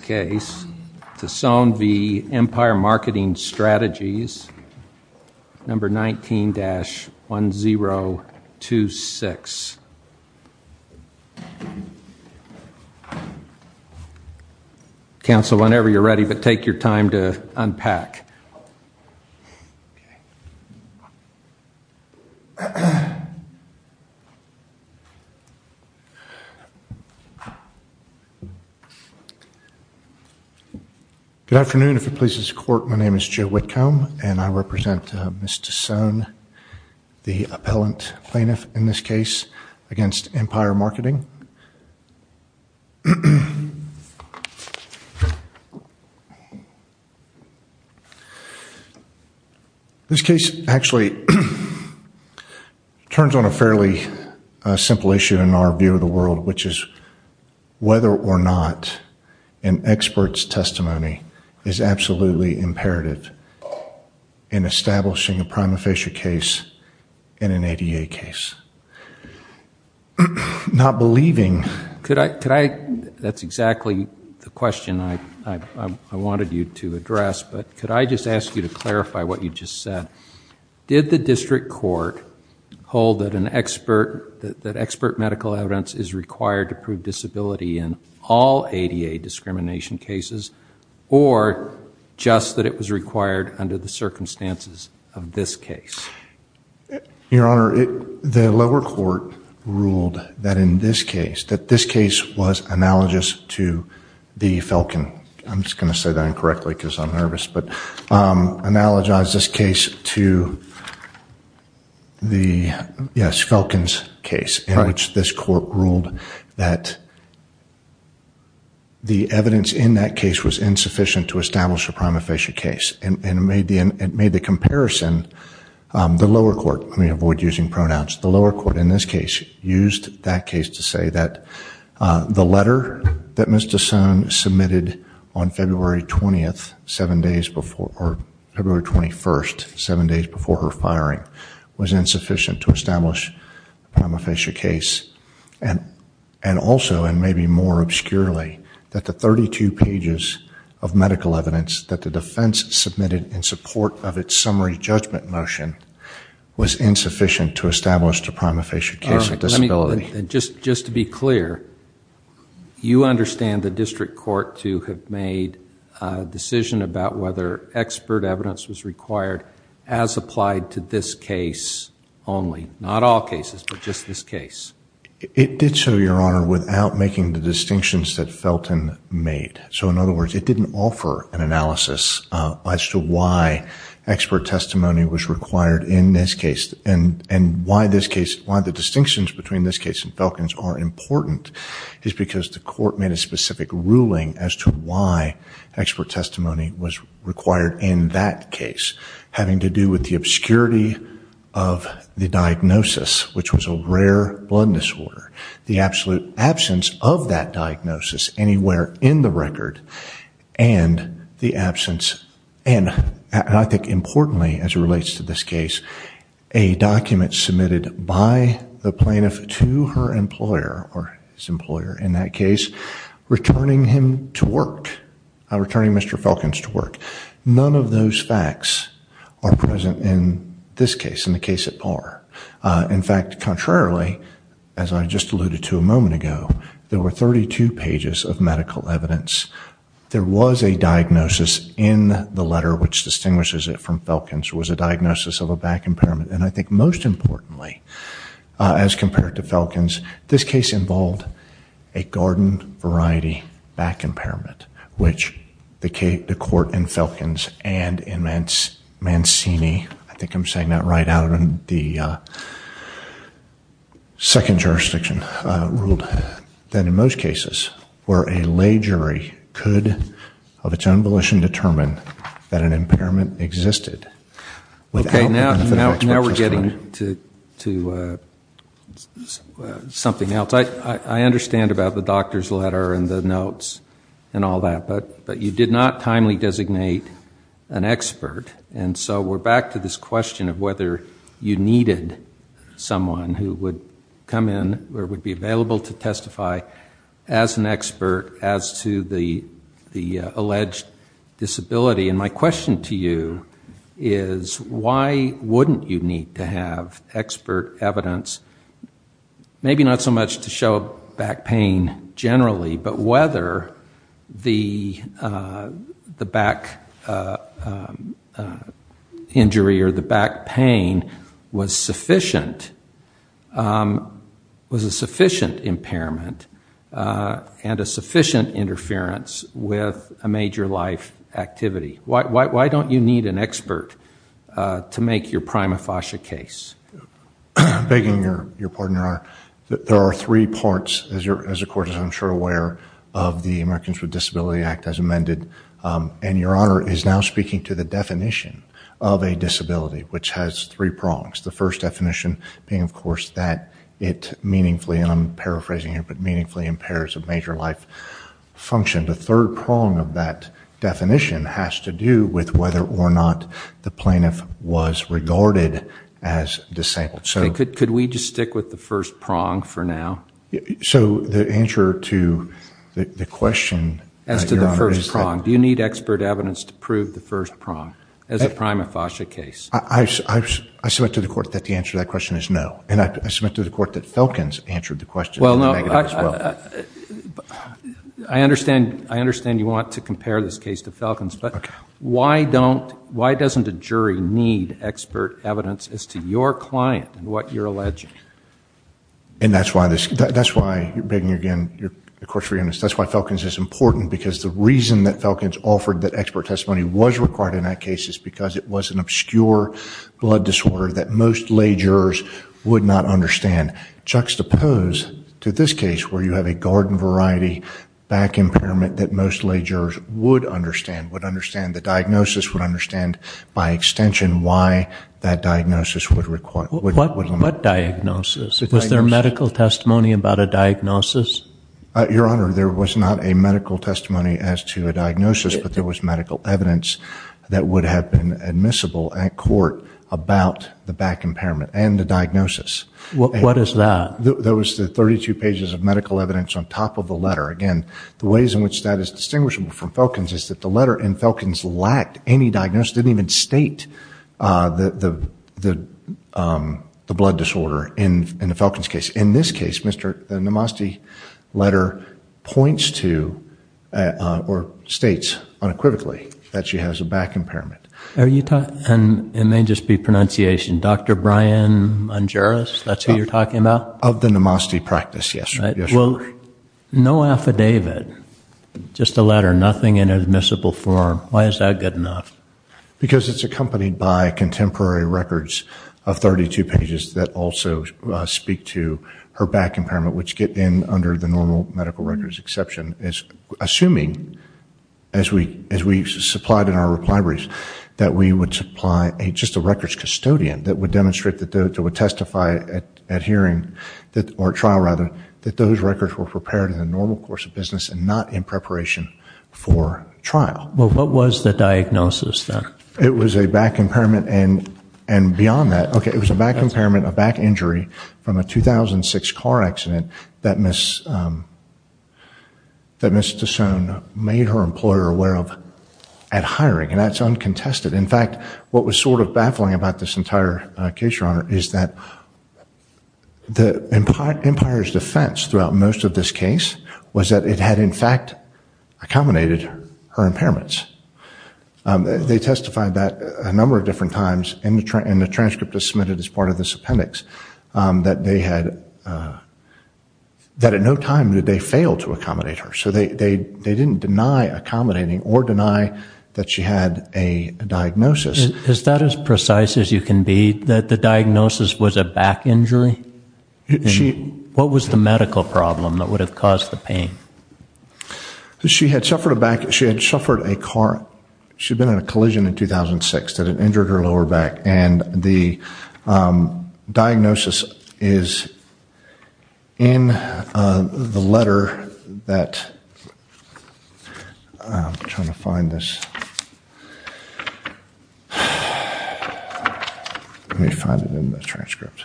case, Thesone v. Empire Marketing Strategies, number 19-1026. Council, whenever you're ready, but take your time to unpack. Good afternoon. If it pleases the court, my name is Joe Whitcomb, and I represent Ms. Thesone, the appellant plaintiff in this case against Empire Marketing. This case actually turns on a fairly simple issue in our view of the world, which is whether or not an expert's testimony is absolutely imperative in establishing a prima facie case in an ADA case. Not believing... That's exactly the question I wanted you to address, but could I just ask you to clarify what you just said? Did the district court hold that expert medical evidence is required to prove disability in all ADA discrimination cases, or just that it was required under the circumstances of this case? Your Honor, the lower court ruled that in this case, that this case was analogous to the Falcon. I'm just going to say that incorrectly because I'm nervous, but analogize this case to the, yes, Falcon's case, in which this court ruled that the evidence in that case was insufficient to establish a prima facie case. It made the comparison, the lower court, let me avoid using pronouns, the lower court in this case used that case to say that the letter that Ms. Thesone submitted on February 20th, 7 days before, or February 21st, 7 days before her firing, was insufficient to establish a prima facie case. And also, and maybe more obscurely, that the 32 pages of medical evidence that the defense submitted in support of its summary judgment motion was insufficient to establish a prima facie case of disability. Just to be clear, you understand the district court to have made a decision about whether expert evidence was required as applied to this case only, not all cases, but just this case? It did so, Your Honor, without making the distinctions that Felton made. So in other words, it didn't offer an analysis as to why expert testimony was required in this case and why the distinctions between this case and Felton's are important is because the court made a specific ruling as to why expert testimony was required in that case, having to do with the obscurity of the diagnosis, which was a rare blood disorder, the absolute absence of that diagnosis anywhere in the record, and the absence, and I think importantly as it relates to this case, a document submitted by the plaintiff to her employer, or his employer in that case, returning him to work, returning Mr. Felton to work. None of those facts are present in this case, in the case at par. In fact, contrarily, as I just alluded to a moment ago, there were 32 pages of medical evidence. There was a diagnosis in the letter, which distinguishes it from Felton's, was a diagnosis of a back impairment, and I think most importantly, as compared to Felton's, this case involved a garden variety back impairment, which the court in Felton's and in Mancini, I think I'm saying that right, out in the second jurisdiction ruled that in most cases, where a lay jury could, of its own volition, determine that an impairment existed. Okay, now we're getting to something else. I understand about the doctor's letter and the notes and all that, but you did not timely designate an expert, and so we're back to this question of whether you needed someone who would come in or would be available to testify as an expert as to the alleged disability, and my question to you is why wouldn't you need to have expert evidence, maybe not so much to show back pain generally, but whether the back injury or the back pain was a sufficient impairment and a sufficient interference with a major life activity. Why don't you need an expert to make your prima facie case? I'm begging your pardon, Your Honor. There are three parts, as the court is I'm sure aware, of the Americans with Disability Act as amended, and Your Honor is now speaking to the definition of a disability, which has three prongs. The first definition being, of course, that it meaningfully, and I'm paraphrasing here, but meaningfully impairs a major life function. The third prong of that definition has to do with whether or not the plaintiff was regarded as disabled. Could we just stick with the first prong for now? So the answer to the question, Your Honor, is that... As to the first prong, do you need expert evidence to prove the first prong as a prima facie case? I submit to the court that the answer to that question is no, and I submit to the court that Falcons answered the question as well. Well, no, I understand you want to compare this case to Falcons, but why doesn't a jury need expert evidence as to your client and what you're alleging? And that's why, begging again, the court's forgiveness, that's why Falcons is important, because the reason that Falcons offered that expert testimony was required in that case is because it was an obscure blood disorder that most lay jurors would not understand. Juxtapose to this case where you have a garden variety back impairment that most lay jurors would understand, would understand the diagnosis, would understand by extension why that diagnosis would limit... What diagnosis? Was there medical testimony about a diagnosis? Your Honor, there was not a medical testimony as to a diagnosis, but there was medical evidence that would have been admissible at court about the back impairment and the diagnosis. What is that? That was the 32 pages of medical evidence on top of the letter. Again, the ways in which that is distinguishable from Falcons is that the letter in Falcons lacked any diagnosis. It didn't even state the blood disorder in the Falcons case. In this case, the NAMASTE letter points to or states unequivocally that she has a back impairment. And it may just be pronunciation. Dr. Brian Mongeris, that's who you're talking about? Of the NAMASTE practice, yes. No affidavit, just a letter, nothing in admissible form. Why is that good enough? Because it's accompanied by contemporary records of 32 pages that also speak to her back impairment, which get in under the normal medical records exception. Assuming, as we supplied in our reply briefs, that we would supply just a records custodian that would demonstrate, that would testify at hearing, or trial rather, that those records were prepared in the normal course of business and not in preparation for trial. Well, what was the diagnosis then? It was a back impairment. And beyond that, okay, it was a back impairment, a back injury, from a 2006 car accident that Ms. Tassone made her employer aware of at hiring. And that's uncontested. In fact, what was sort of baffling about this entire case, Your Honor, is that Empire's defense throughout most of this case was that it had in fact accommodated her impairments. They testified that a number of different times, and the transcript is submitted as part of this appendix, that at no time did they fail to accommodate her. So they didn't deny accommodating or deny that she had a diagnosis. Is that as precise as you can be, that the diagnosis was a back injury? What was the medical problem that would have caused the pain? She had suffered a back, she had suffered a car, she had been in a collision in 2006 that had injured her lower back. And the diagnosis is in the letter that I'm trying to find this. Let me find it in the transcript.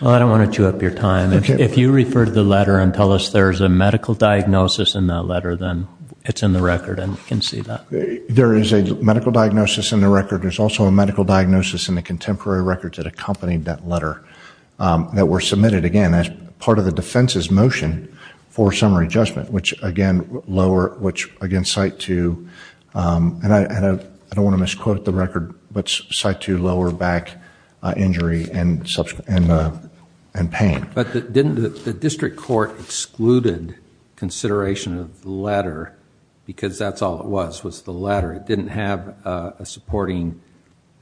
Well, I don't want to chew up your time. If you refer to the letter and tell us there's a medical diagnosis in that letter, then it's in the record and we can see that. There is a medical diagnosis in the record. There's also a medical diagnosis in the contemporary records that accompanied that letter that were submitted, again, as part of the defense's motion for summary judgment, which again cite to, and I don't want to misquote the record, but cite to lower back injury and pain. But didn't the district court excluded consideration of the letter because that's all it was, was the letter. It didn't have a supporting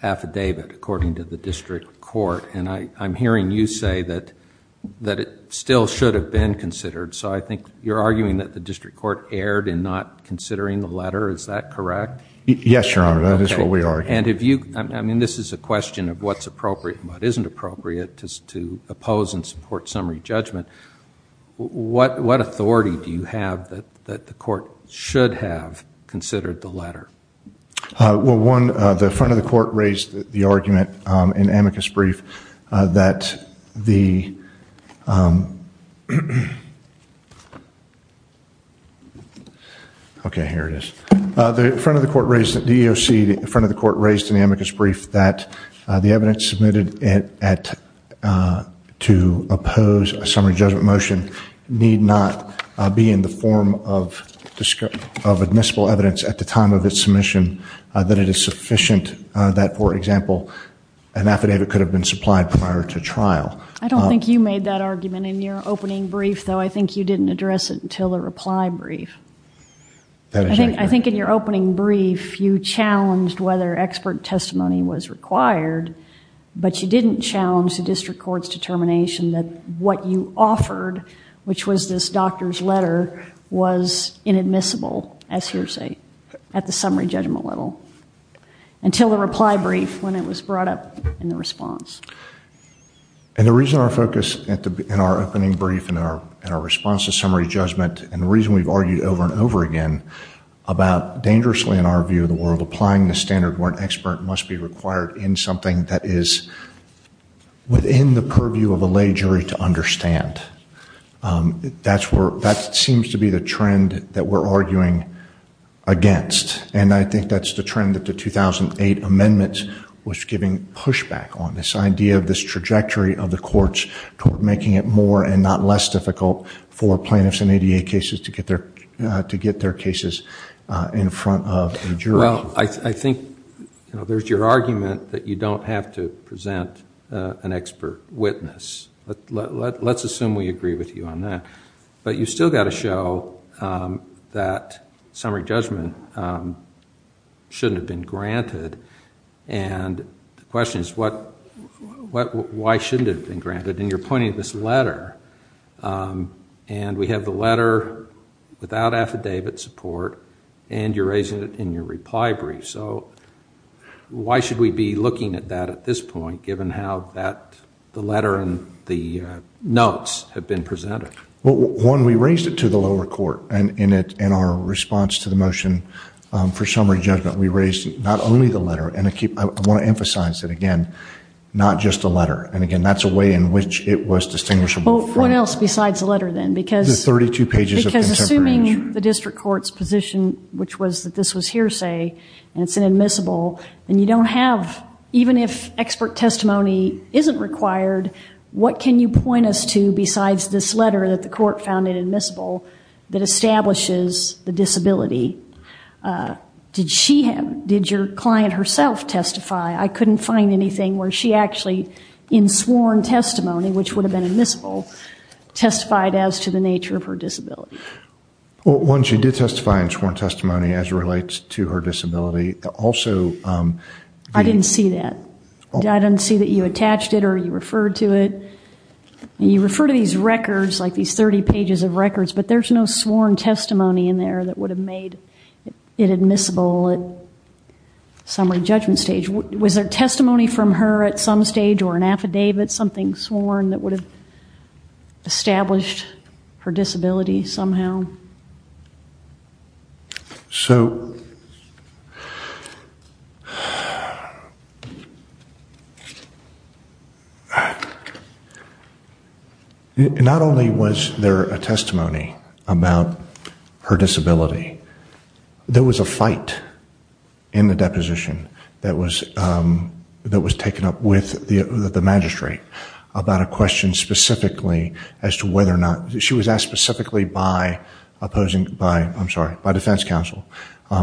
affidavit, according to the district court. And I'm hearing you say that it still should have been considered. So I think you're arguing that the district court erred in not considering the letter. Is that correct? Yes, Your Honor. That is what we argue. Okay. And if you, I mean, this is a question of what's appropriate and what isn't appropriate to oppose and support summary judgment. What authority do you have that the court should have considered the letter? Well, one, the front of the court raised the argument in amicus brief that the, okay, here it is. The front of the court raised, the EEOC front of the court raised in amicus brief that the evidence submitted to oppose a summary judgment motion need not be in the form of admissible evidence at the time of its submission that it is sufficient that, for example, an affidavit could have been supplied prior to trial. I don't think you made that argument in your opening brief, though. I think you didn't address it until the reply brief. I think in your opening brief you challenged whether expert testimony was required, but you didn't challenge the district court's determination that what you offered, which was this doctor's letter, was inadmissible, as hearsay, at the summary judgment level until the reply brief when it was brought up in the response. And the reason our focus in our opening brief and our response to summary judgment and the reason we've argued over and over again about dangerously, in our view of the world, applying the standard where an expert must be required in something that is within the purview of a lay jury to understand, that seems to be the trend that we're arguing against. And I think that's the trend that the 2008 amendment was giving pushback on, this idea of this trajectory of the courts toward making it more and not less difficult for plaintiffs in ADA cases to get their cases in front of a jury. Well, I think there's your argument that you don't have to present an expert witness. Let's assume we agree with you on that. But you've still got to show that summary judgment shouldn't have been granted. And the question is, why shouldn't it have been granted? And you're pointing to this letter, and we have the letter without affidavit support, and you're raising it in your reply brief. So why should we be looking at that at this point, given how the letter and the notes have been presented? Well, one, we raised it to the lower court in our response to the motion for summary judgment. We raised not only the letter, and I want to emphasize that, again, not just the letter. And, again, that's a way in which it was distinguishable. Well, what else besides the letter then? Because assuming the district court's position, which was that this was hearsay and it's admissible, then you don't have, even if expert testimony isn't required, what can you point us to besides this letter that the court found admissible that establishes the disability? Did your client herself testify? I couldn't find anything where she actually, in sworn testimony, which would have been admissible, testified as to the nature of her disability. Well, one, she did testify in sworn testimony as it relates to her disability. I didn't see that. I didn't see that you attached it or you referred to it. You refer to these records, like these 30 pages of records, but there's no sworn testimony in there that would have made it admissible at summary judgment stage. Was there testimony from her at some stage or an affidavit, something sworn, that would have established her disability somehow? So, not only was there a testimony about her disability, there was a fight in the deposition that was taken up with the magistrate about a question specifically as to whether or not, she was asked specifically by defense counsel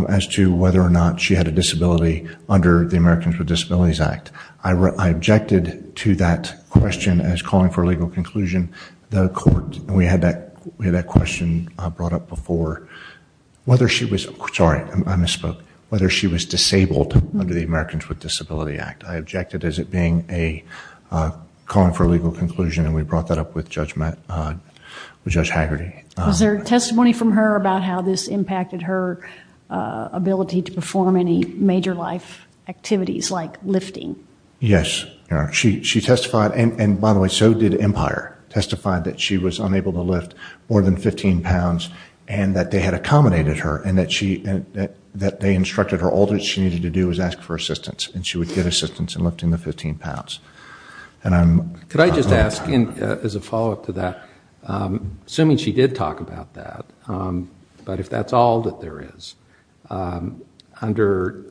as to whether or not she had a disability under the Americans with Disabilities Act. I objected to that question as calling for a legal conclusion. We had that question brought up before, whether she was, sorry, I misspoke, whether she was disabled under the Americans with Disabilities Act. I objected as it being a calling for a legal conclusion, and we brought that up with Judge Haggerty. Was there testimony from her about how this impacted her ability to perform any major life activities, like lifting? Yes. She testified, and by the way, so did Empire, testified that she was unable to lift more than 15 pounds and that they had accommodated her and that they instructed her all that she needed to do was ask for assistance, and she would get assistance in lifting the 15 pounds. Could I just ask, as a follow-up to that, assuming she did talk about that, but if that's all that there is, under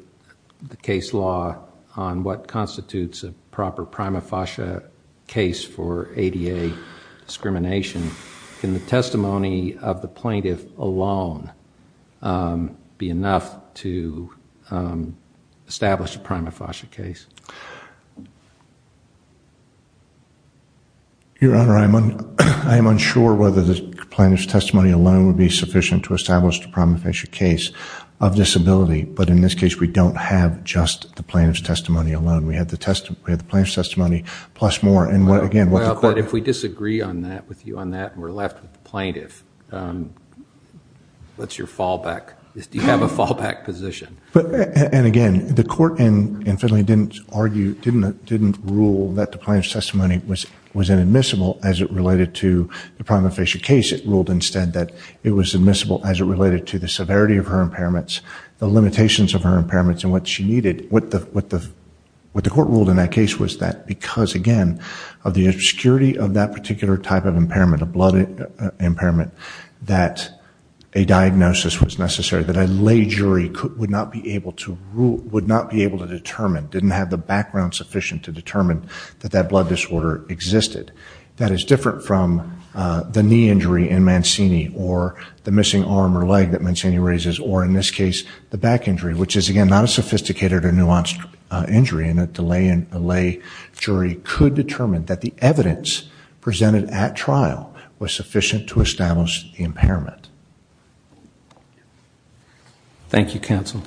the case law on what constitutes a proper prima facie case for ADA discrimination, can the testimony of the plaintiff alone be enough to establish a prima facie case? Your Honor, I am unsure whether the plaintiff's testimony alone would be sufficient to establish a prima facie case of disability, but in this case we don't have just the plaintiff's testimony alone. We have the plaintiff's testimony plus more, and again, what the court... But if we disagree on that, with you on that, and we're left with the plaintiff, what's your fallback? Do you have a fallback position? Again, the court in Finley didn't rule that the plaintiff's testimony was inadmissible as it related to the prima facie case. It ruled instead that it was admissible as it related to the severity of her impairments, the limitations of her impairments, and what she needed. What the court ruled in that case was that because, again, of the obscurity of that particular type of impairment, a blood impairment, that a diagnosis was necessary that a lay jury would not be able to determine, didn't have the background sufficient to determine that that blood disorder existed. That is different from the knee injury in Mancini or the missing arm or leg that Mancini raises or, in this case, the back injury, which is, again, not a sophisticated or nuanced injury and a lay jury could determine that the evidence presented at trial was sufficient to establish the impairment. Thank you, counsel.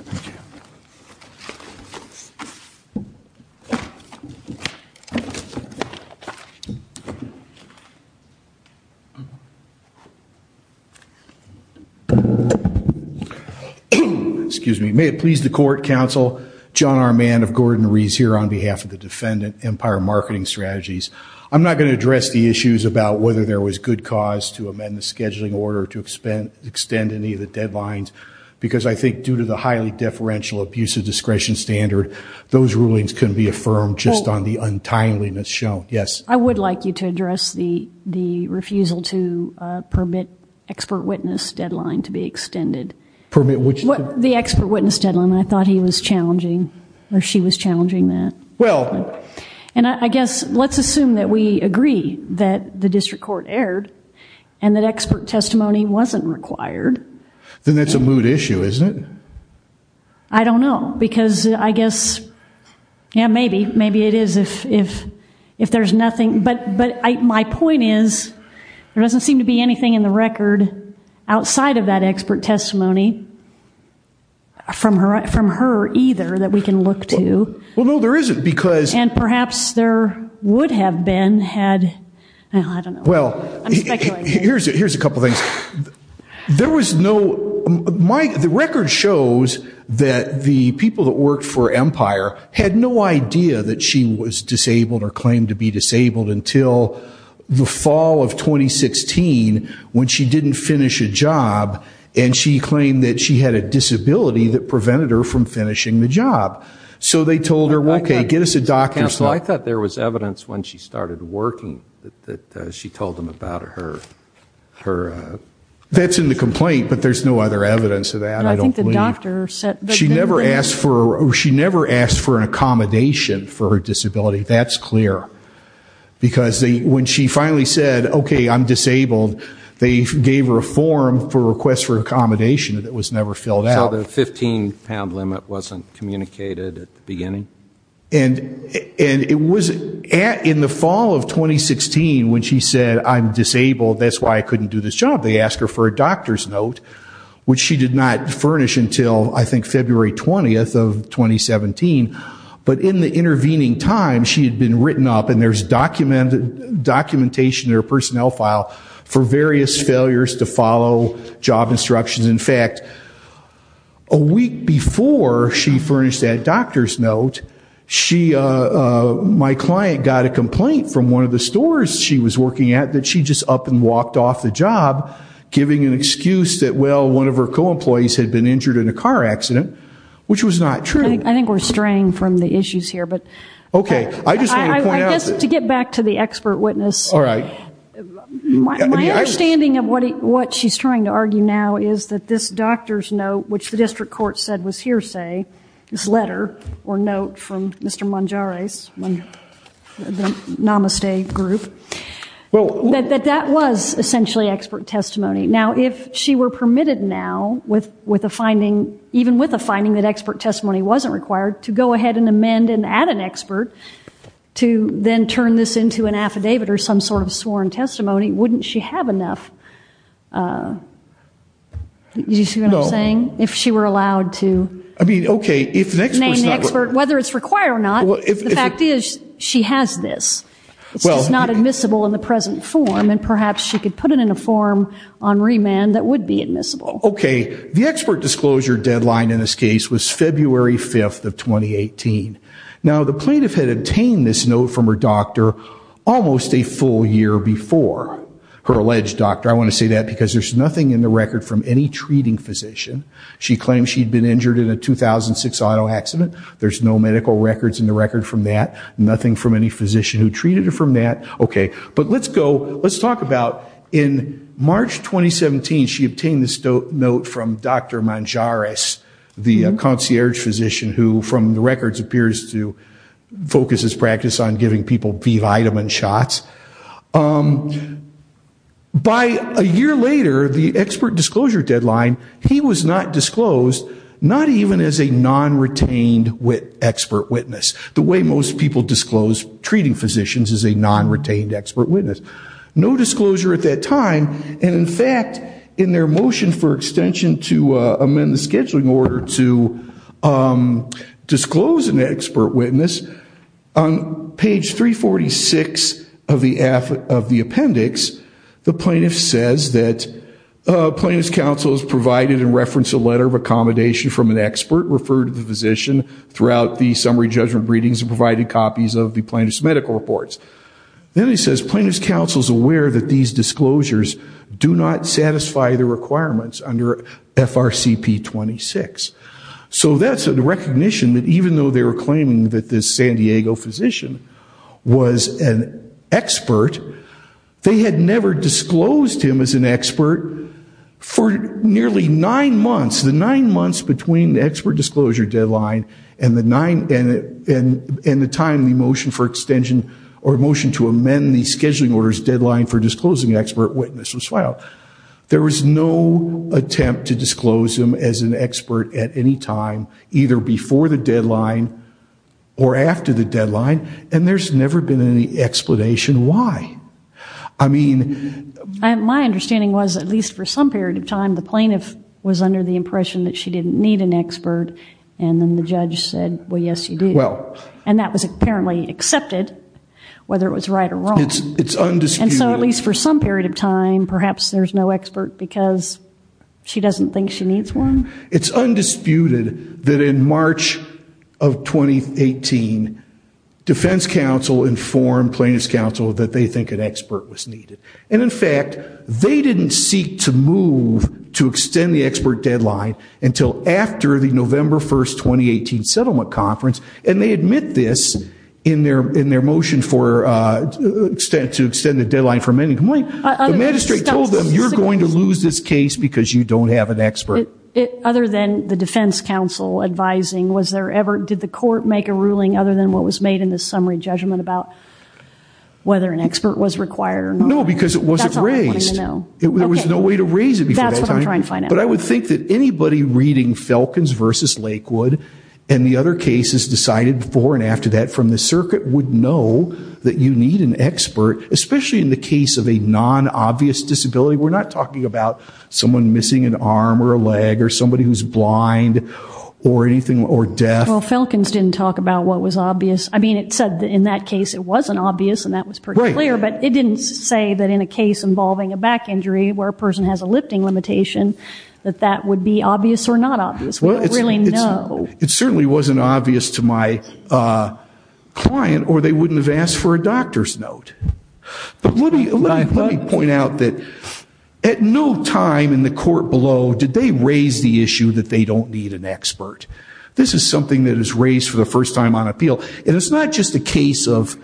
May it please the court, counsel, John R. Mann of Gordon Rees here on behalf of the defendant, Empire Marketing Strategies. I'm not going to address the issues about whether there was good cause to amend the scheduling order to extend any of the deadlines because I think due to the highly deferential abuse of discretion standard, those rulings can be affirmed just on the untimeliness shown. I would like you to address the refusal to permit expert witness deadline to be extended. Permit which? The expert witness deadline. I thought he was challenging or she was challenging that. And I guess let's assume that we agree that the district court erred and that expert testimony wasn't required. Then that's a moot issue, isn't it? I don't know because I guess, yeah, maybe. Maybe it is if there's nothing. But my point is there doesn't seem to be anything in the record outside of that expert testimony from her either that we can look to. Well, no, there isn't because And perhaps there would have been had, I don't know, I'm speculating. Here's a couple of things. There was no, the record shows that the people that worked for Empire had no idea that she was disabled or claimed to be disabled until the fall of 2016 when she didn't finish a job and she claimed that she had a disability that prevented her from finishing the job. So they told her, okay, get us a doctor. Counsel, I thought there was evidence when she started working that she told them about her. That's in the complaint, but there's no other evidence of that. I don't believe. She never asked for an accommodation for her disability. That's clear. Because when she finally said, okay, I'm disabled, they gave her a form for a request for accommodation that was never filled out. So the 15-pound limit wasn't communicated at the beginning? And it was in the fall of 2016 when she said, I'm disabled, that's why I couldn't do this job. They asked her for a doctor's note, which she did not furnish until, I think, February 20th of 2017. But in the intervening time, she had been written up, and there's documentation in her personnel file for various failures to follow job instructions. In fact, a week before she furnished that doctor's note, my client got a complaint from one of the stores she was working at that she just up and walked off the job, giving an excuse that, well, one of her co-employees had been injured in a car accident, which was not true. I think we're straying from the issues here. Okay. I guess to get back to the expert witness, my understanding of what she's trying to argue now is that this doctor's note, which the district court said was hearsay, this letter or note from Mr. Monjares, the Namaste group, that that was essentially expert testimony. Now, if she were permitted now, even with the finding that expert testimony wasn't required, to go ahead and amend and add an expert to then turn this into an affidavit or some sort of sworn testimony, wouldn't she have enough? Do you see what I'm saying? No. If she were allowed to name the expert, whether it's required or not, the fact is she has this. It's just not admissible in the present form, and perhaps she could put it in a form on remand that would be admissible. Okay. The expert disclosure deadline in this case was February 5th of 2018. Now, the plaintiff had obtained this note from her doctor almost a full year before her alleged doctor. I want to say that because there's nothing in the record from any treating physician. She claimed she'd been injured in a 2006 auto accident. There's no medical records in the record from that, nothing from any physician who treated her from that. Okay. But let's go, let's talk about in March 2017, she obtained this note from Dr. Monjares, the concierge physician who, from the records, appears to focus his practice on giving people B vitamin shots. By a year later, the expert disclosure deadline, he was not disclosed, not even as a non-retained expert witness, the way most people disclose treating physicians as a non-retained expert witness. No disclosure at that time, and, in fact, in their motion for extension to amend the scheduling order to disclose an expert witness, on page 346 of the appendix, the plaintiff says that plaintiff's counsel has provided and referenced a letter of accommodation from an expert, referred to the physician throughout the summary judgment readings and provided copies of the plaintiff's medical reports. Then he says, plaintiff's counsel is aware that these disclosures do not satisfy the requirements under FRCP 26. So that's a recognition that even though they were claiming that this San Diego physician was an expert, they had never disclosed him as an expert for nearly nine months. The nine months between the expert disclosure deadline and the time in their motion for extension, or motion to amend the scheduling order's deadline for disclosing an expert witness was filed. There was no attempt to disclose him as an expert at any time, either before the deadline or after the deadline, and there's never been any explanation why. I mean... My understanding was, at least for some period of time, the plaintiff was under the impression that she didn't need an expert, and then the judge said, well, yes, you do. Well... And that was apparently accepted, whether it was right or wrong. It's undisputed. And so at least for some period of time, perhaps there's no expert because she doesn't think she needs one? It's undisputed that in March of 2018, defense counsel informed plaintiff's counsel that they think an expert was needed. And, in fact, they didn't seek to move to extend the expert deadline until after the deadline. And they did this in their motion to extend the deadline for amending complaint. The magistrate told them, you're going to lose this case because you don't have an expert. Other than the defense counsel advising, did the court make a ruling other than what was made in the summary judgment about whether an expert was required or not? No, because it wasn't raised. There was no way to raise it before that time. That's what I'm trying to find out. But I would think that anybody reading Falcons v. Lakewood and the other cases decided before and after that from the circuit would know that you need an expert, especially in the case of a non-obvious disability. We're not talking about someone missing an arm or a leg or somebody who's blind or anything or deaf. Well, Falcons didn't talk about what was obvious. I mean, it said in that case it wasn't obvious, and that was pretty clear. But it didn't say that in a case involving a back injury where a person has a lifting limitation that that would be obvious or not obvious. We don't really know. It certainly wasn't obvious to my client, or they wouldn't have asked for a doctor's note. But let me point out that at no time in the court below did they raise the issue that they don't need an expert. This is something that is raised for the first time on appeal. And it's not just a case of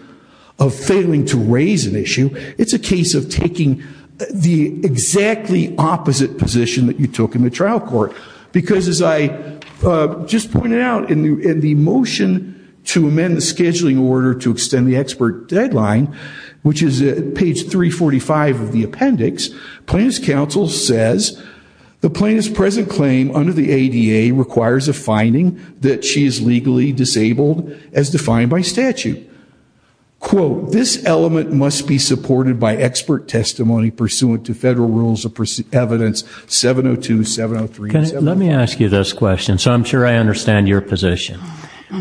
failing to raise an issue. It's a case of taking the exactly opposite position that you took in the I just pointed out in the motion to amend the scheduling order to extend the expert deadline, which is at page 345 of the appendix, plaintiff's counsel says the plaintiff's present claim under the ADA requires a finding that she is legally disabled as defined by statute. Quote, this element must be supported by expert testimony pursuant to federal rules of evidence 702, 703, 704. Let me ask you this question, so I'm sure I understand your position.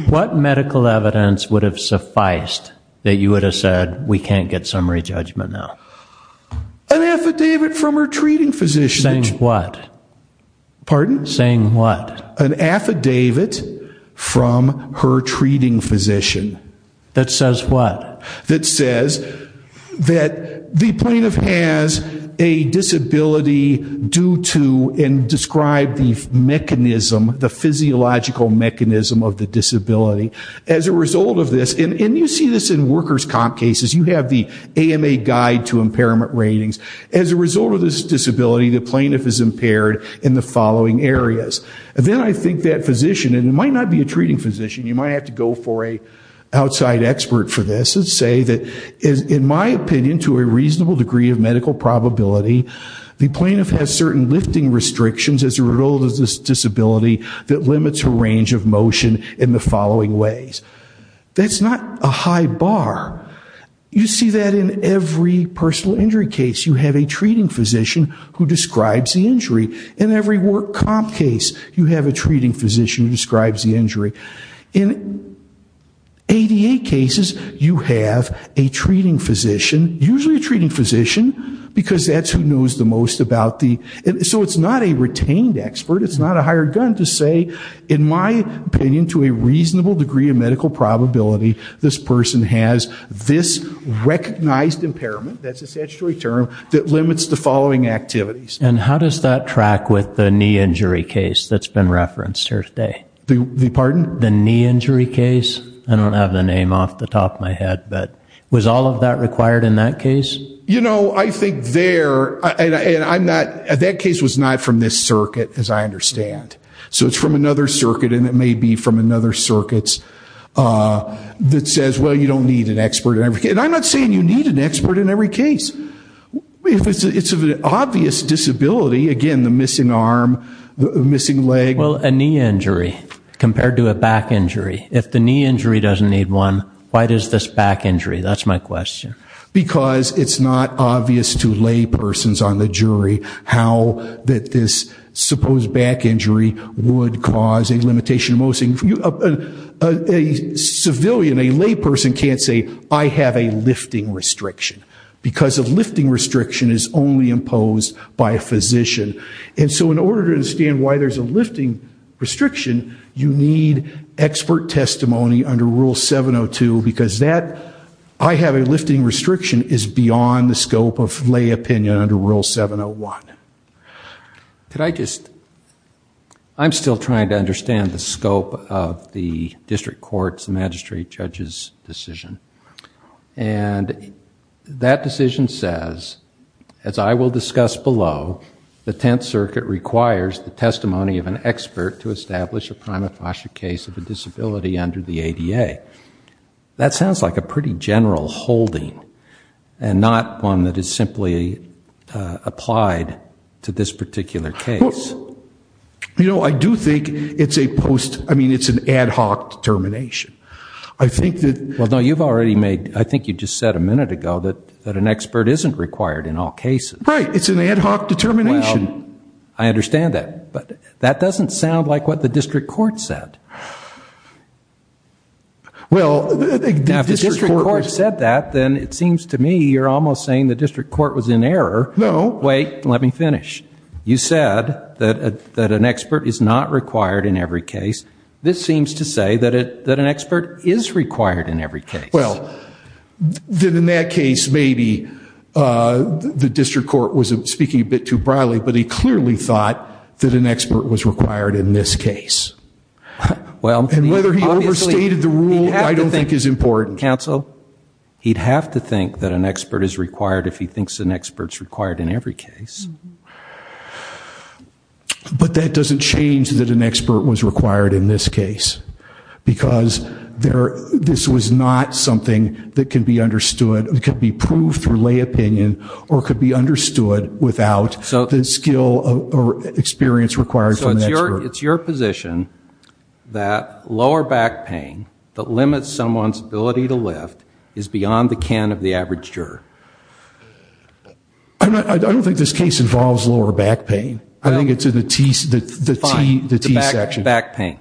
What medical evidence would have sufficed that you would have said we can't get summary judgment now? An affidavit from her treating physician. Saying what? Pardon? Saying what? An affidavit from her treating physician. That says what? That says that the plaintiff has a disability due to and describe the mechanism, the physiological mechanism of the disability. As a result of this, and you see this in workers' comp cases, you have the AMA guide to impairment ratings. As a result of this disability, the plaintiff is impaired in the following areas. Then I think that physician, and it might not be a treating physician, you might have to go for an outside expert for this, and say that in my opinion, to a reasonable degree of medical probability, the plaintiff has certain lifting restrictions as a result of this disability that limits her range of motion in the following ways. That's not a high bar. You see that in every personal injury case. You have a treating physician who describes the injury. In every work comp case, you have a treating physician who describes the injury. In ADA cases, you have a treating physician, usually a treating physician because that's who knows the most about the, so it's not a retained expert. It's not a hired gun to say, in my opinion, to a reasonable degree of medical probability, this person has this recognized impairment, that's a statutory term, that limits the following activities. And how does that track with the knee injury case that's been referenced here today? The pardon? The knee injury case. I don't have the name off the top of my head, but was all of that required in that case? You know, I think there, and I'm not, that case was not from this circuit, as I understand. So it's from another circuit, and it may be from another circuit that says, well, you don't need an expert in every case. And I'm not saying you need an expert in every case. It's an obvious disability, again, the missing arm, the missing leg. Well, a knee injury compared to a back injury. If the knee injury doesn't need one, why does this back injury? That's my question. Because it's not obvious to laypersons on the jury how this supposed back injury would cause a limitation. A civilian, a layperson can't say, I have a lifting restriction. Because a lifting restriction is only imposed by a physician. And so in order to understand why there's a lifting restriction, you need expert testimony under Rule 702. Because that, I have a lifting restriction, is beyond the scope of lay opinion under Rule 701. Could I just, I'm still trying to understand the scope of the district court's and magistrate judge's decision. And that decision says, as I will discuss below, the Tenth Circuit requires the testimony of an expert to establish a prima facie case of a disability under the ADA. That sounds like a pretty general holding, and not one that is simply applied to this particular case. You know, I do think it's a post, I mean, it's an ad hoc determination. I think that... Well, no, you've already made, I think you just said a minute ago, that an expert isn't required in all cases. Right. It's an ad hoc determination. Well, I understand that. But that doesn't sound like what the district court said. Well... Now, if the district court said that, then it seems to me you're almost saying the district court was in error. No. Wait, let me finish. You said that an expert is not required in every case. This seems to say that an expert is required in every case. Well, then in that case, maybe the district court was speaking a bit too broadly, but he clearly thought that an expert was required in this case. And whether he overstated the rule, I don't think, is important. Counsel, he'd have to think that an expert is required if he thinks an expert is required in every case. But that doesn't change that an expert was required in this case, because this was not something that could be understood, could be proved through lay opinion, or could be understood without the skill or experience required from an expert. So it's your position that lower back pain that limits someone's ability to lift is beyond the can of the average juror? I don't think this case involves lower back pain. I think it's in the T section. Fine. The back pain.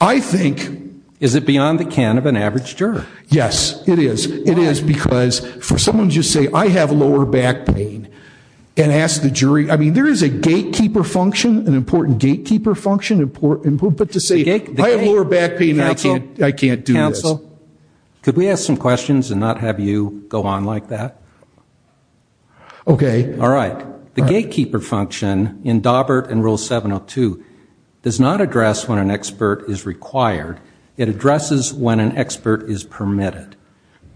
I think... Is it beyond the can of an average juror? Yes, it is. Why? It is because for someone to just say, I have lower back pain, and ask the jury, I mean, there is a gatekeeper function, an important gatekeeper function, but to say, I have lower back pain, I can't do this. Could we ask some questions and not have you go on like that? Okay. All right. The gatekeeper function in Dawbert and Rule 702 does not address when an expert is required. It addresses when an expert is permitted.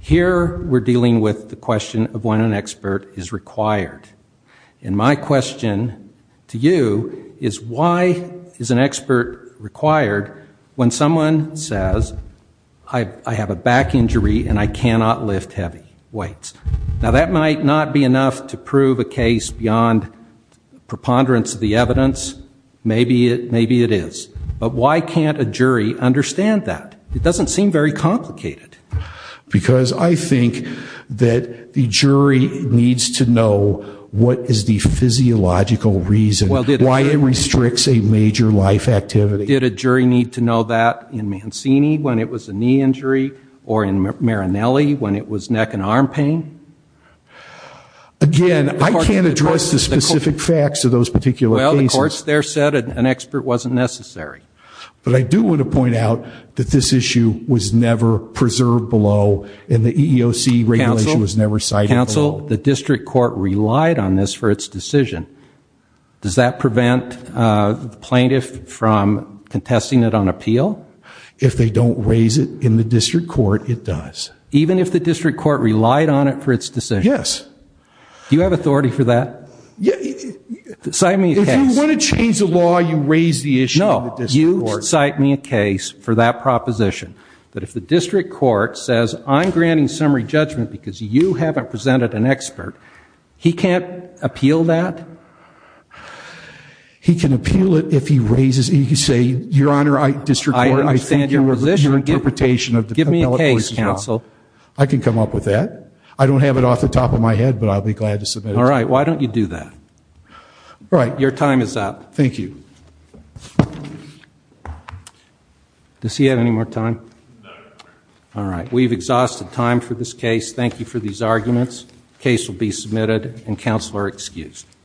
Here we're dealing with the question of when an expert is required. And my question to you is, why is an expert required when someone says, I have a back injury and I cannot lift heavy weights? Now, that might not be enough to prove a case beyond preponderance of the evidence. Maybe it is. But why can't a jury understand that? It doesn't seem very complicated. Because I think that the jury needs to know what is the physiological reason why it restricts a major life activity. Did a jury need to know that in Mancini when it was a knee injury or in Marinelli when it was neck and arm pain? Again, I can't address the specific facts of those particular cases. Well, the courts there said an expert wasn't necessary. But I do want to point out that this issue was never preserved below and the EEOC regulation was never cited below. Counsel, the district court relied on this for its decision. Does that prevent the plaintiff from contesting it on appeal? If they don't raise it in the district court, it does. Even if the district court relied on it for its decision? Yes. Do you have authority for that? If you want to change the law, you raise the issue in the district court. No, you cite me a case for that proposition. But if the district court says, I'm granting summary judgment because you haven't presented an expert, he can't appeal that? He can appeal it if he raises it. You can say, Your Honor, district court, I think your interpretation of the appellate voice is wrong. Give me a case, counsel. I can come up with that. I don't have it off the top of my head, but I'll be glad to submit it to you. All right. Why don't you do that? All right. Your time is up. Thank you. Does he have any more time? No, Your Honor. All right. We've exhausted time for this case. Thank you for these arguments. The case will be submitted and counsel are excused.